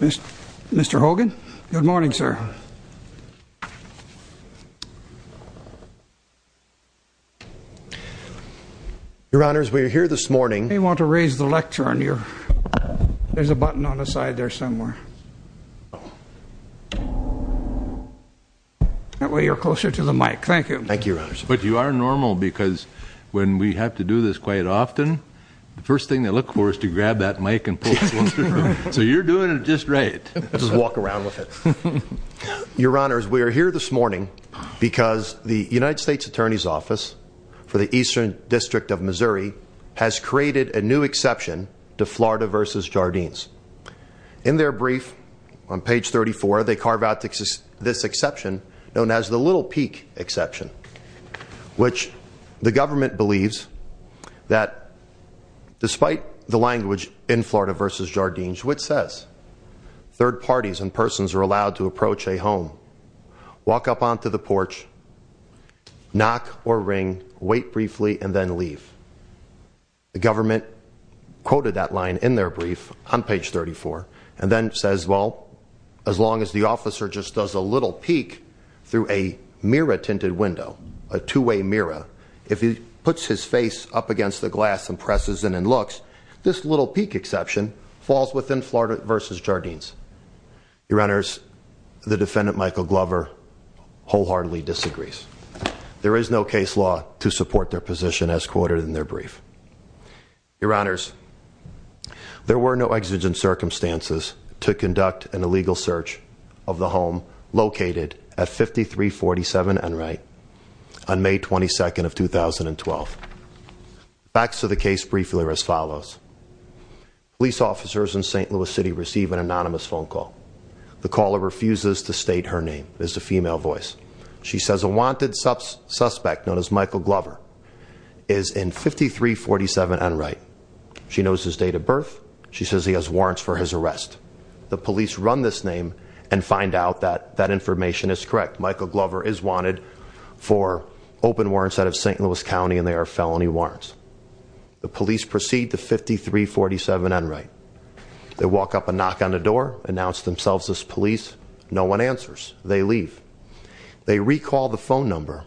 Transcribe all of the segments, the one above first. Mr. Hogan good morning sir your honors we're here this morning they want to raise the lectern your there's a button on the side there somewhere that way you're closer to the mic thank you thank you but you are normal because when we have to do this quite often the first thing they look for is to grab that mic and so you're doing it just right let's just walk around with it your honors we are here this morning because the United States Attorney's Office for the Eastern District of Missouri has created a new exception to Florida versus Jardines in their brief on page 34 they carve out this exception known as the Little Peak exception which the government believes that despite the Florida versus Jardines which says third parties and persons are allowed to approach a home walk up onto the porch knock or ring wait briefly and then leave the government quoted that line in their brief on page 34 and then says well as long as the officer just does a little peek through a mirror tinted window a two-way mirror if he puts his face up against the glass and presses in and looks this Little Peak exception falls within Florida versus Jardines your honors the defendant Michael Glover wholeheartedly disagrees there is no case law to support their position as quoted in their brief your honors there were no exigent circumstances to conduct an illegal search of the home located at follows police officers in st. Louis City receive an anonymous phone call the caller refuses to state her name is a female voice she says a wanted suspect known as Michael Glover is in 5347 and right she knows his date of birth she says he has warrants for his arrest the police run this name and find out that that information is correct Michael Glover is wanted for open warrants out of st. Louis County and they are felony warrants the police proceed to 5347 and right they walk up and knock on the door announce themselves as police no one answers they leave they recall the phone number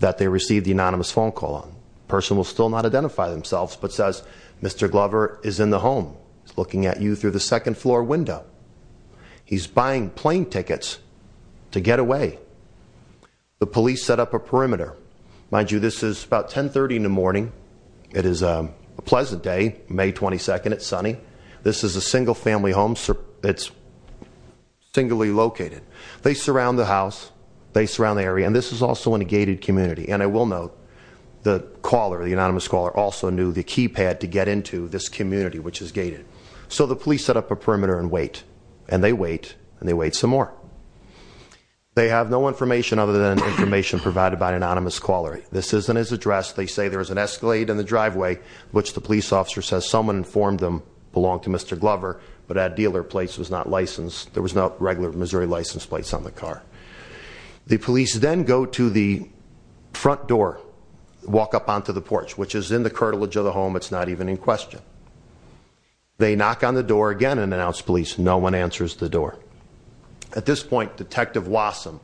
that they received the anonymous phone call on person will still not identify themselves but says mr. Glover is in the home looking at you through the second floor window he's buying plane tickets to get away the police set up a pleasant day May 22nd it's sunny this is a single-family home sir it's singly located they surround the house they surround the area and this is also in a gated community and I will note the caller the anonymous caller also knew the keypad to get into this community which is gated so the police set up a perimeter and wait and they wait and they wait some more they have no information other than information provided by an anonymous caller this isn't his address they say there is an escalate in the driveway which the police officer says someone informed them belong to mr. Glover but at dealer place was not licensed there was no regular Missouri license plates on the car the police then go to the front door walk up onto the porch which is in the curtilage of the home it's not even in question they knock on the door again and announce police no one answers the door at this point detective Wasson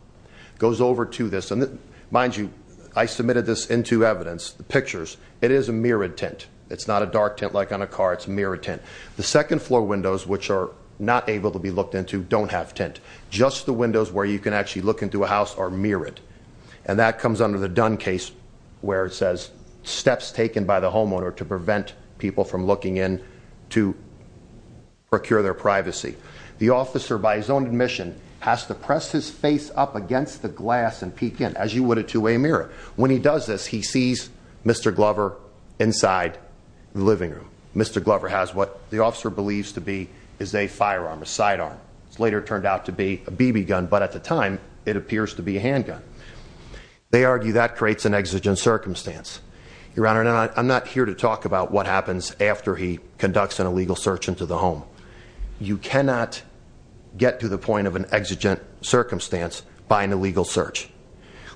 goes over to this and mind you I submitted this into evidence the pictures it is a mirrored tent it's not a dark tent like on a car it's a mirror tent the second floor windows which are not able to be looked into don't have tent just the windows where you can actually look into a house or mirror it and that comes under the Dunn case where it says steps taken by the homeowner to prevent people from looking in to procure their privacy the officer by his own admission has to as you would a two-way mirror when he does this he sees mr. Glover inside the living room mr. Glover has what the officer believes to be is a firearm a sidearm it's later turned out to be a BB gun but at the time it appears to be a handgun they argue that creates an exigent circumstance your honor and I'm not here to talk about what happens after he conducts an illegal search into the home you cannot get to the point of an exigent circumstance by an illegal search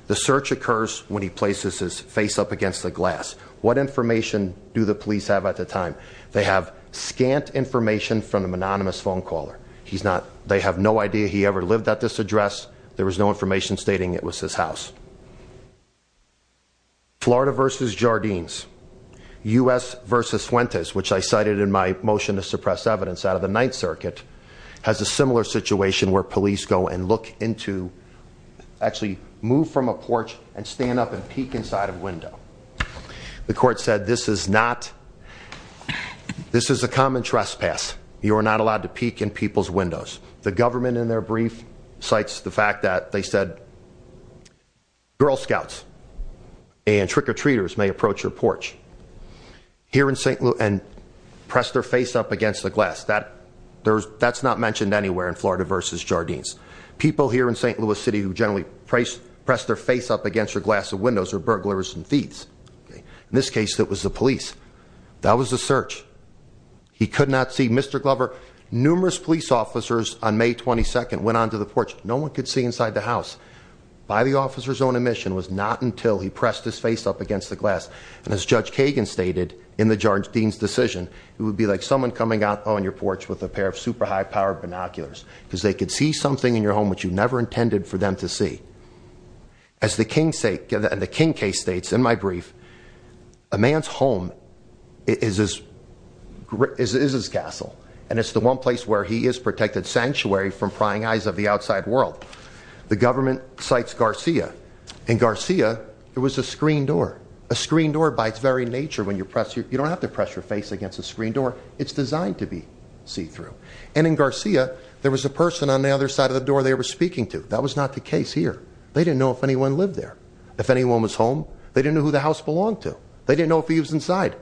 the search occurs when he places his face up against the glass what information do the police have at the time they have scant information from the anonymous phone caller he's not they have no idea he ever lived at this address there was no information stating it was his house Florida versus Jardines u.s. versus Fuentes which I cited in my motion to suppress evidence out of the actually move from a porch and stand up and peek inside a window the court said this is not this is a common trespass you are not allowed to peek in people's windows the government in their brief cites the fact that they said girl scouts and trick-or-treaters may approach your porch here in st. Louis and press their face up against the glass that there's that's not mentioned anywhere in Florida versus Jardines people here in st. Louis City who generally price press their face up against your glass of windows or burglars and thieves in this case that was the police that was a search he could not see mr. Glover numerous police officers on May 22nd went on to the porch no one could see inside the house by the officers own admission was not until he pressed his face up against the glass and as judge Kagan stated in the judge Dean's decision it would be like someone coming out on your porch with a pair of super high-powered binoculars because they could see something in your home which you never intended for them to see as the King say give that the King case states in my brief a man's home is as great as is his castle and it's the one place where he is protected sanctuary from prying eyes of the outside world the government cites Garcia in Garcia there was a screen door a screen door by its very nature when you press you you don't have to press your face against a screen door it's Garcia there was a person on the other side of the door they were speaking to that was not the case here they didn't know if anyone lived there if anyone was home they didn't know who the house belonged to they didn't know if he was inside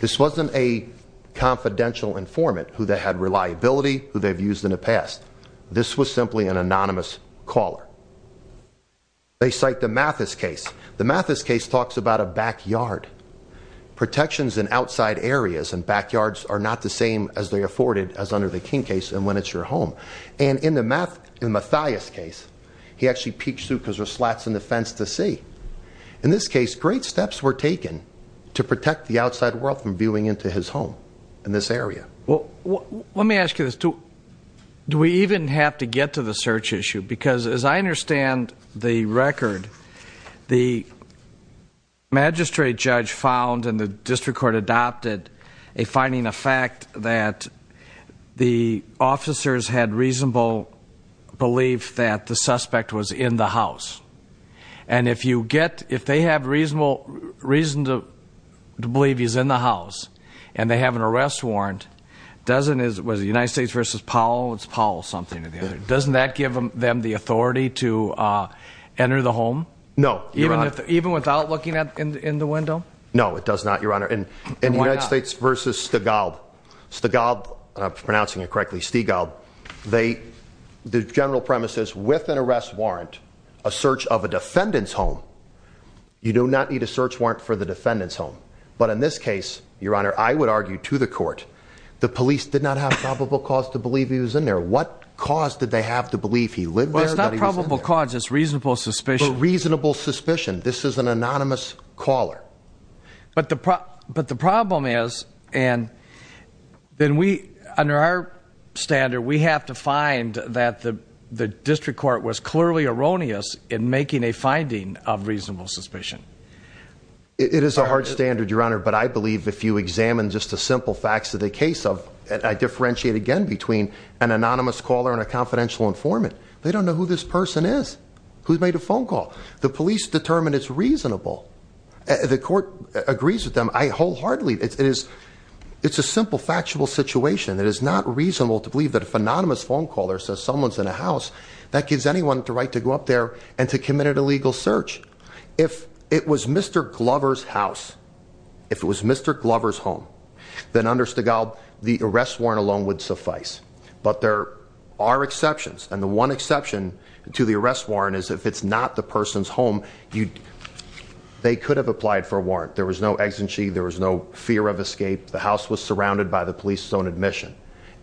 this wasn't a confidential informant who they had reliability who they've used in the past this was simply an anonymous caller they cite the Mathis case the Mathis case talks about a backyard protections in outside areas and backyards are not the same as they afforded as under the King case and when it's your home and in the math in Mathias case he actually peeks through because there's slats in the fence to see in this case great steps were taken to protect the outside world from viewing into his home in this area well let me ask you this too do we even have to get to the search issue because as I understand the record the magistrate judge found and the district court adopted a finding a fact that the officers had reasonable belief that the suspect was in the house and if you get if they have reasonable reason to believe he's in the house and they have an arrest warrant doesn't is it was the United States versus Powell it's Paul something doesn't that give them the authority to enter the home no even if even without looking at in the window no it does not your honor and in the United States versus Stigall Stigall pronouncing it correctly Stigall they the general premises with an arrest warrant a search of a defendant's home you do not need a search warrant for the defendant's home but in this case your honor I would argue to the court the police did not have probable cause to believe he was in there what cause did they have to believe he lived well it's not probable cause it's reasonable suspicion reasonable suspicion this is an anonymous caller but the prop but the problem is and then we under our standard we have to find that the the district court was clearly erroneous in making a finding of reasonable suspicion it is a hard standard your honor but I believe if you examine just a simple facts of the case of I differentiate again between an anonymous caller and a phone call the police determined it's reasonable the court agrees with them I wholeheartedly it is it's a simple factual situation that is not reasonable to believe that a phononymous phone caller says someone's in a house that gives anyone the right to go up there and to commit an illegal search if it was mr. Glover's house if it was mr. Glover's home then under Stigall the arrest warrant alone would suffice but there are exceptions and the one exception to the arrest warrant is if it's not the person's home you they could have applied for a warrant there was no exit she there was no fear of escape the house was surrounded by the police zone admission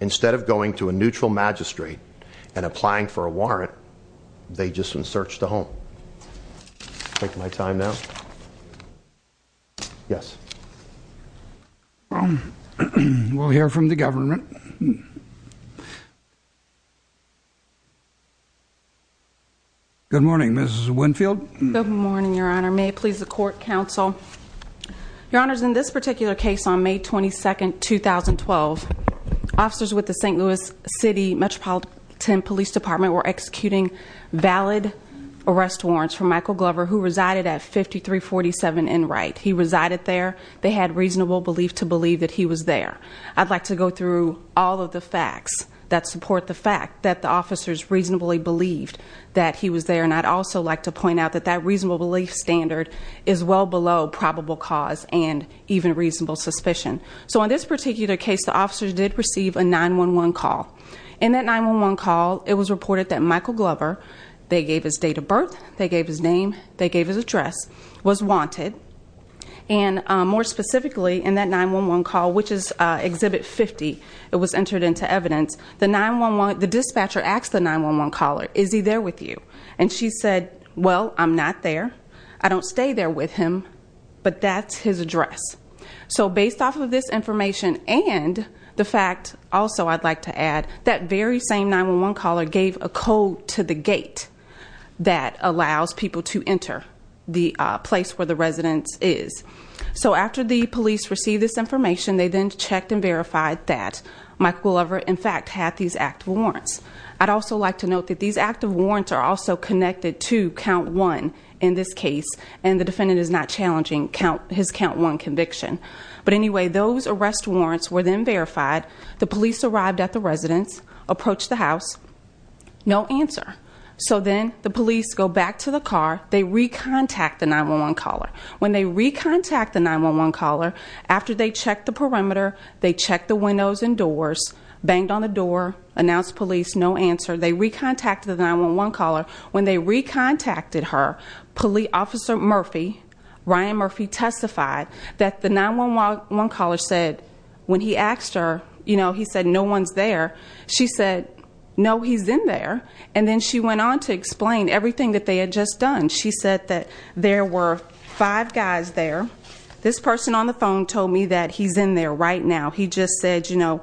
instead of going to a neutral magistrate and applying for a warrant they just been searched the take my time now yes well we'll hear from the government good morning mrs. Winfield good morning your honor may please the court counsel your honors in this particular case on May 22nd 2012 officers with the st. Louis City Metropolitan Police Department were executing valid arrest warrants for Michael Glover who resided at 5347 in right he resided there they had reasonable belief to believe that he was there I'd like to go through all of the facts that support the fact that the officers reasonably believed that he was there and I'd also like to point out that that reasonable belief standard is well below probable cause and even reasonable suspicion so in this 911 call it was reported that Michael Glover they gave his date of birth they gave his name they gave his address was wanted and more specifically in that 911 call which is exhibit 50 it was entered into evidence the 911 the dispatcher asked the 911 caller is he there with you and she said well I'm not there I don't stay there with him but that's his address so based off of this information and the fact also I'd like to add that very same 911 caller gave a code to the gate that allows people to enter the place where the residence is so after the police received this information they then checked and verified that Michael Glover in fact had these active warrants I'd also like to note that these active warrants are also connected to count one in this case and the defendant is not challenging count his count one conviction but anyway those arrest warrants were then verified the police arrived at the residence approached the house no answer so then the police go back to the car they recontact the 911 caller when they recontact the 911 caller after they check the perimeter they check the windows and doors banged on the door announced police no answer they recontacted the 911 caller when they recontacted her police officer Murphy Ryan Murphy testified that the 911 caller said when he asked her you know he said no one's there she said no he's in there and then she went on to explain everything that they had just done she said that there were five guys there this person on the phone told me that he's in there right now he just said you know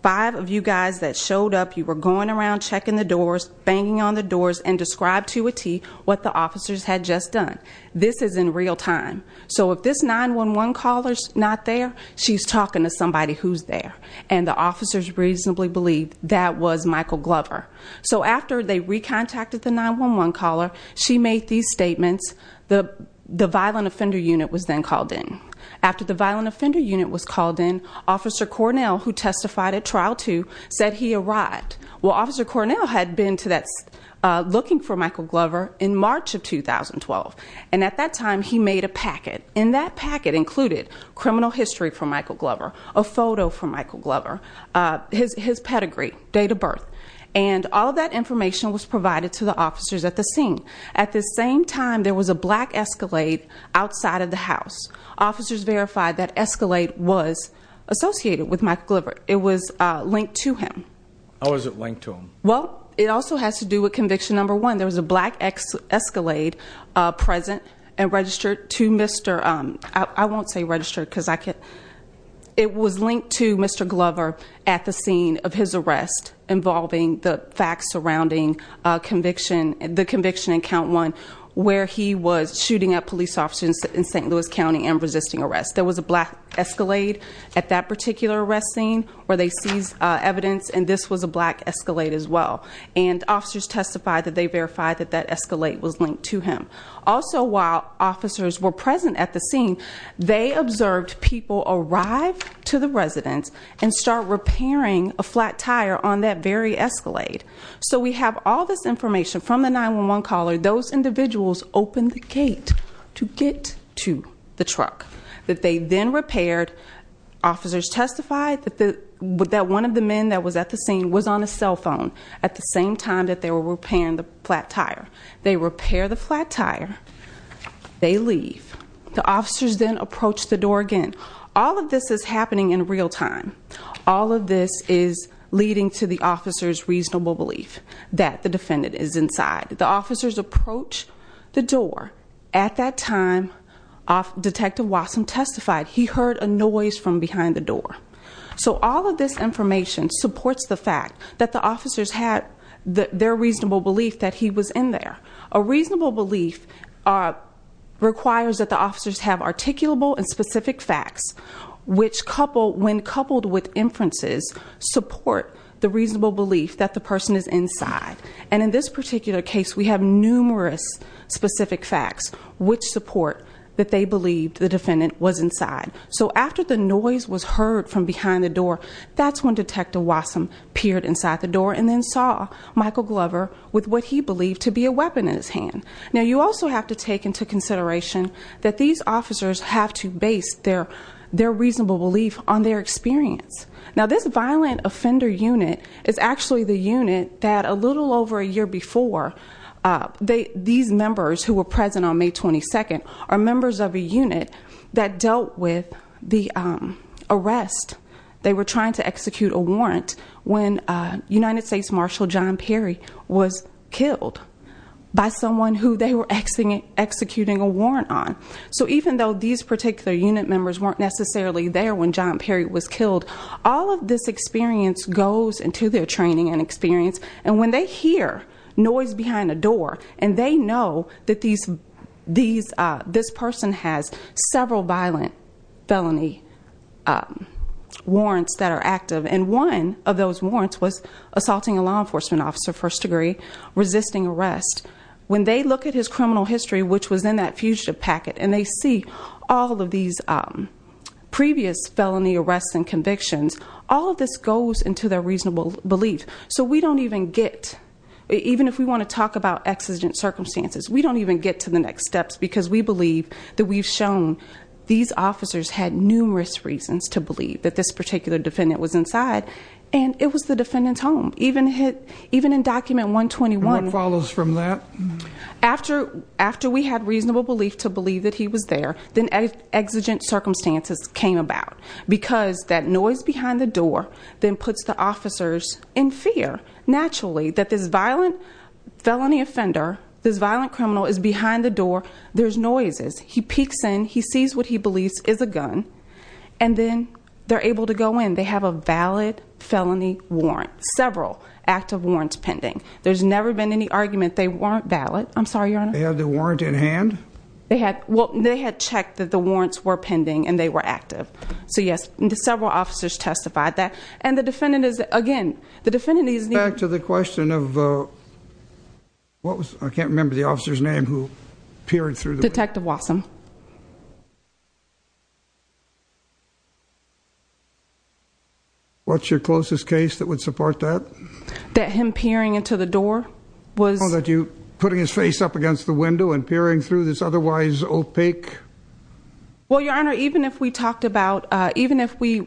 five of you guys that showed up you were going around checking the doors banging on the doors and described to a T what the officers had just done this is in real time so if this 911 callers not there she's talking to somebody who's there and the officers reasonably believe that was Michael Glover so after they recontacted the 911 caller she made these statements the the violent offender unit was then called in after the violent offender unit was called in officer Cornell who testified at trial to said he arrived well officer Cornell had been to that's looking for Michael Glover in March of 2012 and at that time he made a packet in that packet included criminal history from Michael Glover a photo from Michael Glover his pedigree date of birth and all that information was provided to the officers at the scene at the same time there was a black escalate outside of the house officers verified that escalate was associated with Michael Glover it was linked to him how is it linked to him well it also has to do with conviction number one there was a black X escalate present and registered to mr. I won't say registered because I could it was linked to mr. Glover at the scene of his arrest involving the facts surrounding conviction and the conviction in count one where he was shooting up police officers in st. Louis County and resisting arrest there was a black escalate at that particular arrest scene where they seized evidence and this was a black escalate as well and officers testified that they verified that that escalate was linked to him also while officers were present at the scene they observed people arrive to the residence and start repairing a flat tire on that very escalate so we have all this information from the 911 caller those individuals open the gate to get to the truck that they then repaired officers testified that the would that one of the men that was at the scene was on a cell phone at the same time that they were repairing the flat tire they repair the flat tire they leave the officers then approach the door again all of this is happening in real time all of this is leading to the officers reasonable belief that the defendant is inside the officers approach the door at that time off detective Watson testified he heard a noise from behind the door so all of this information supports the fact that the officers had their reasonable belief that he was in there a reasonable belief requires that the officers have articulable and specific facts which couple when coupled with inferences support the reasonable belief that the person is inside and in this particular case we have numerous specific facts which support that they believed the defendant was inside so after the noise was heard from behind the door that's when detective Watson peered inside the door and then saw Michael Glover with what he believed to be a weapon in his hand now you also have to take into consideration that these officers have to base their their reasonable belief on their experience now this violent offender unit is actually the unit that a little over a year before they these members who were present on May 22nd are members of the unit that dealt with the arrest they were trying to execute a warrant when United States Marshal John Perry was killed by someone who they were exiting executing a warrant on so even though these particular unit members weren't necessarily there when John Perry was killed all of this experience goes into their training and experience and when they hear noise behind the door and they know that these these this person has several violent felony warrants that are active and one of those warrants was assaulting a law enforcement officer first-degree resisting arrest when they look at his criminal history which was in that fugitive packet and they see all of these previous felony arrests and convictions all of this goes into their reasonable belief so we don't even get even if we want to talk about exigent circumstances we don't even get to the next steps because we believe that we've shown these officers had numerous reasons to believe that this particular defendant was inside and it was the defendant's home even hit even in document 121 follows from that after after we had reasonable belief to believe that he was there then exigent circumstances came about because that noise behind the door then puts the in fear naturally that this violent felony offender this violent criminal is behind the door there's noises he peeks in he sees what he believes is a gun and then they're able to go in they have a valid felony warrant several active warrants pending there's never been any argument they weren't valid I'm sorry you're gonna have the warrant in hand they had well they had checked that the warrants were pending and they were active so yes into several officers testified that and the defendant is again the defendant is back to the question of what was I can't remember the officer's name who peered through the detective Wasson what's your closest case that would support that that him peering into the door was that you putting his face up against the window and peering through this otherwise opaque well your honor even if we talked about even if we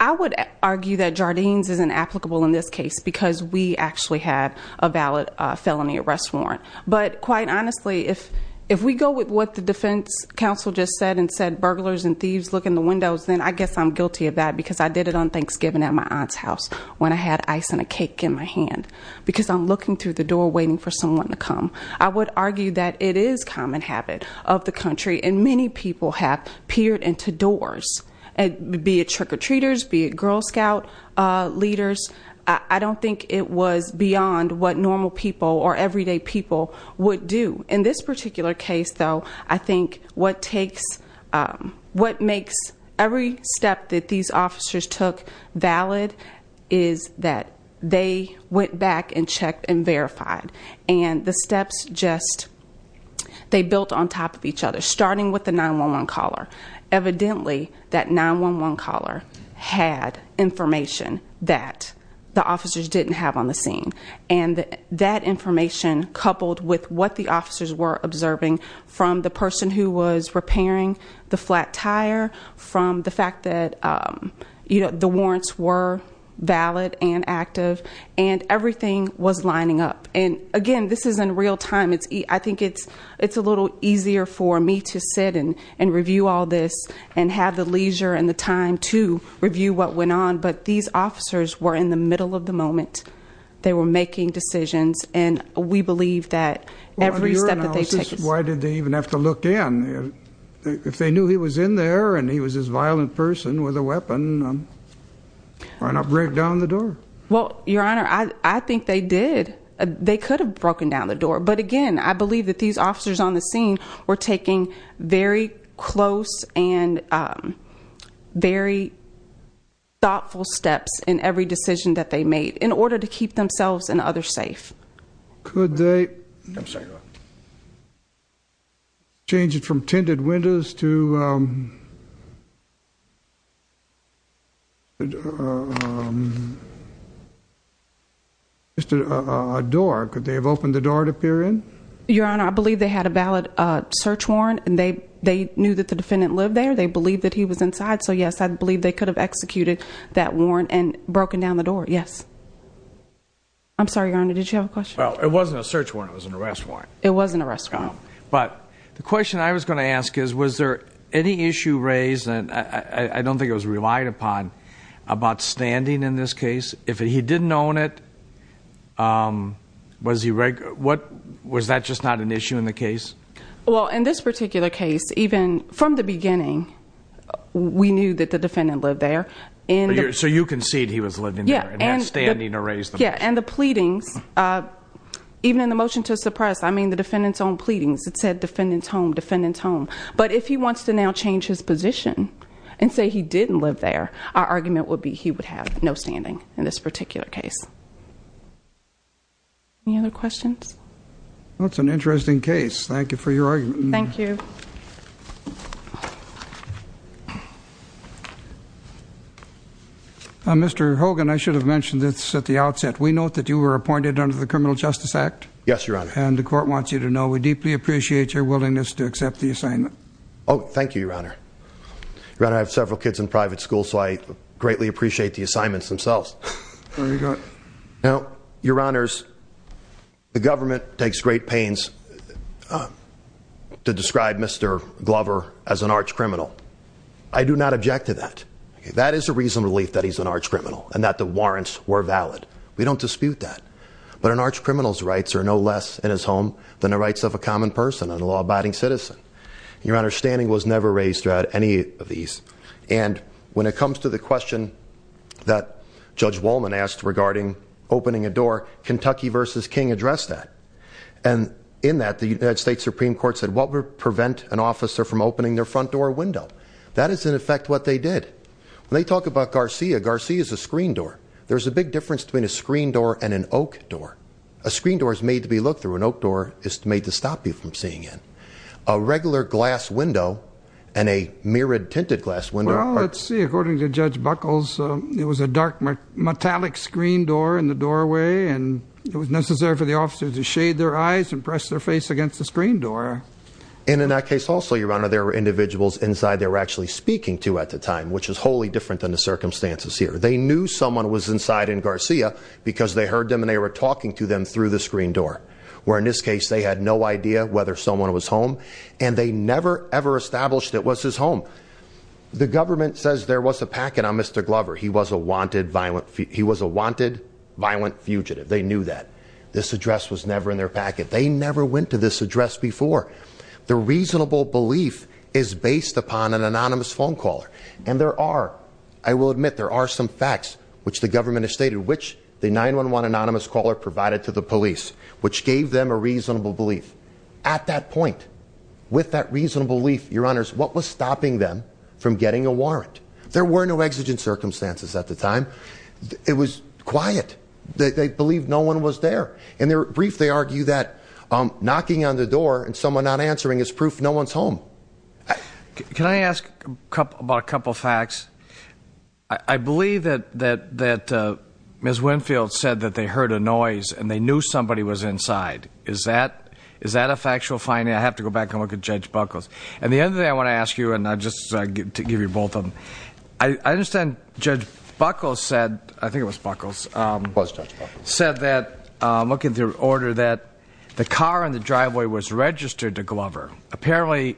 I would argue that Jardines isn't applicable in this case because we actually had a valid felony arrest warrant but quite honestly if if we go with what the defense counsel just said and said burglars and thieves look in the windows then I guess I'm guilty of that because I did it on Thanksgiving at my aunt's house when I had ice and a cake in my hand because I'm looking through the door waiting for someone to come I would argue that it is common habit of the country and many people have peered into doors and be a trick-or-treaters be a Girl Scout leaders I don't think it was beyond what normal people or everyday people would do in this particular case though I think what takes what makes every step that these officers took valid is that they went back and checked and verified and the steps just they built on top of each other starting with the 9-1-1 caller evidently that 9-1-1 caller had information that the officers didn't have on the scene and that information coupled with what the officers were observing from the person who was repairing the flat tire from the fact that you know the warrants were valid and active and everything was lining up and again this is in real time it's I think it's it's a little easier for me to sit in and review all this and have the leisure and the time to review what went on but these officers were in the middle of the moment they were making decisions and we believe that every step that they take this why did they even have to look in if they knew he was in there and he was a violent person with a weapon I think they did they could have broken down the door but again I believe that these officers on the scene were taking very close and very thoughtful steps in every decision that they made in order to keep themselves and others safe could they I'm sorry change it from tinted windows to mr. door could they have opened the door to peer in your honor I believe they had a valid search warrant and they they knew that the defendant lived there they believed that he was inside so yes I believe they could have executed that warrant and broken down the door yes I'm sorry your honor did you have a question well it wasn't a search warrant was an arrest warrant it wasn't a restaurant but the question I was going to ask is was there any issue raised and I don't think it was relied upon about standing in this case if he didn't own it was he regular what was that just not an issue in the case well in this particular case even from the beginning we knew that the defendant lived there and so you concede he was living yeah and standing to raise the yeah and the pleadings even in the motion to suppress I mean the defendants own pleadings it said defendants home defendants home but if he wants to now change his position and say he didn't live there our argument would be he would have no standing in this particular case any other questions that's an interesting case thank you for this at the outset we note that you were appointed under the Criminal Justice Act yes your honor and the court wants you to know we deeply appreciate your willingness to accept the assignment oh thank you your honor run I have several kids in private school so I greatly appreciate the assignments themselves now your honors the government takes great pains to describe mr. Glover as an arch criminal I do not object to that that is a reason relief that he's an arch criminal and that the warrants were valid we don't dispute that but an arch criminals rights are no less in his home than the rights of a common person and a law-abiding citizen your understanding was never raised throughout any of these and when it comes to the question that judge Wollman asked regarding opening a door Kentucky versus King addressed that and in that the United States Supreme Court said what would prevent an officer from opening their front door window that is in effect what they did when they talk about Garcia Garcia is a screen door there's a big difference between a screen door and an oak door a screen door is made to be looked through an oak door is made to stop you from seeing in a regular glass window and a mirrored tinted glass window let's see according to judge buckles it was a dark metallic screen door in the doorway and it was necessary for the officers to shade their eyes and press their face against the screen door and in that case also your honor there were individuals inside they were actually speaking to at the time which is wholly different than the circumstances here they knew someone was inside in Garcia because they heard them and they were talking to them through the screen door where in this case they had no idea whether someone was home and they never ever established it was his home the government says there was a packet on mr. Glover he was a wanted violent he was a wanted violent fugitive they knew that this address was never in their packet they never went to this address before the reasonable belief is based upon an anonymous phone caller and there are I will admit there are some facts which the government has stated which the 9-1-1 anonymous caller provided to the police which gave them a reasonable belief at that point with that reasonable belief your honors what was stopping them from getting a warrant there were no exigent circumstances at the time it was quiet they believed no one was there in their brief they argue that I'm knocking on the door and someone not answering is proof no one's home can I ask a couple about a couple facts I believe that that that miss Winfield said that they heard a noise and they knew somebody was inside is that is that a factual finding I have to go back and look at judge buckles and the other day I want to ask you and I just give you both of them I understand judge buckles said I think it was buckles said that look at the order that the car in the driveway was registered to Glover apparently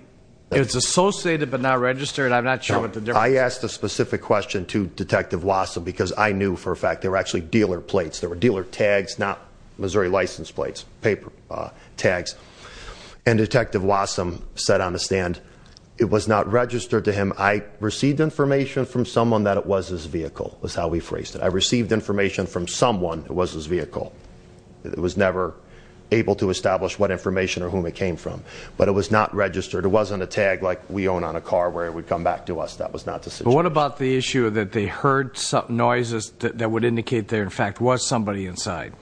it's associated but not registered I'm not sure what the I asked a specific question to detective Watson because I knew for a fact they were actually dealer plates there were dealer tags not Missouri license plates paper tags and detective Watson said on the stand it was not registered to him I received information from someone that it was his vehicle was how we phrased it I received information from someone who was his vehicle it was never able to establish what information or whom it came from but it was not registered it wasn't a tag like we own on a car where it would come back to us that was not to say what about the issue that they heard some noises that would indicate there in fact was somebody inside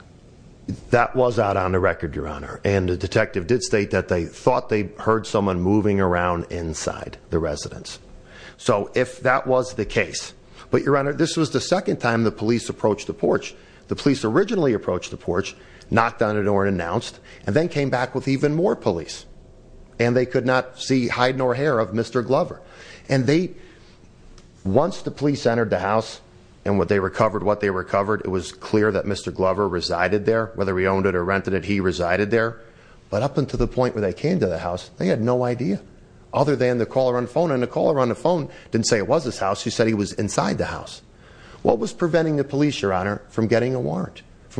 that was out on the record your honor and the detective did state that they thought they heard someone moving around inside the residence so if that was the case but your honor this was the second time the police approached the porch the police originally approached the porch knocked on the door and announced and then came back with even more police and they could not see hide nor hair of mr. Glover and they once the police entered the house and what they recovered what they recovered it was clear that mr. Glover resided there whether we owned it or rented it he resided there but up into the point where they came to the house they had no idea other than the caller on phone and the caller on the phone didn't say it was this house you said he was inside the house what was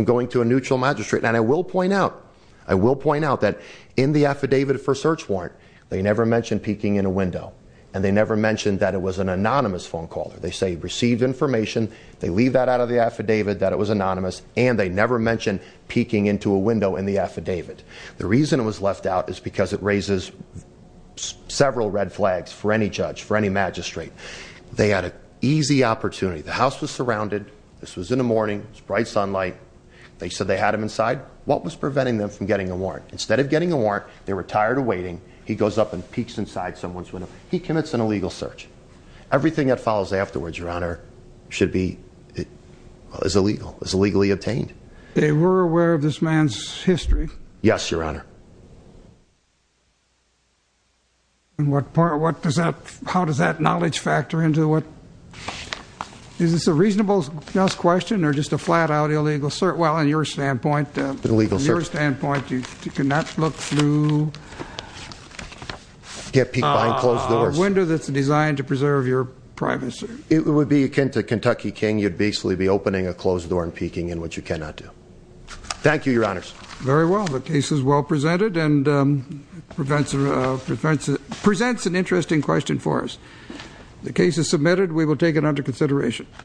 going to a neutral magistrate and I will point out I will point out that in the affidavit for search warrant they never mentioned peeking in a window and they never mentioned that it was an anonymous phone call they say received information they leave that out of the affidavit that it was anonymous and they never mentioned peeking into a window in the affidavit the reason it was left out is because it raises several red flags for any judge for any magistrate they had an easy opportunity the house was surrounded this was in the morning it's bright sunlight they said they had him inside what was preventing them from getting a warrant instead of getting a warrant they were tired of waiting he goes up and peeks inside someone's window he commits an illegal search everything that follows afterwards your honor should be it is illegal is illegally obtained they were aware of this man's history yes your honor and what part what does that how does that knowledge factor into what is this a reasonable just question or just a flat-out illegal sir well in your standpoint the legal your standpoint you cannot look through get people I close the window that's designed to preserve your privacy it would be akin to Kentucky King you'd basically be opening a closed door and peeking in what you cannot do thank you your honors very well the case is well presented and prevents a defense it presents an interesting question for us the case is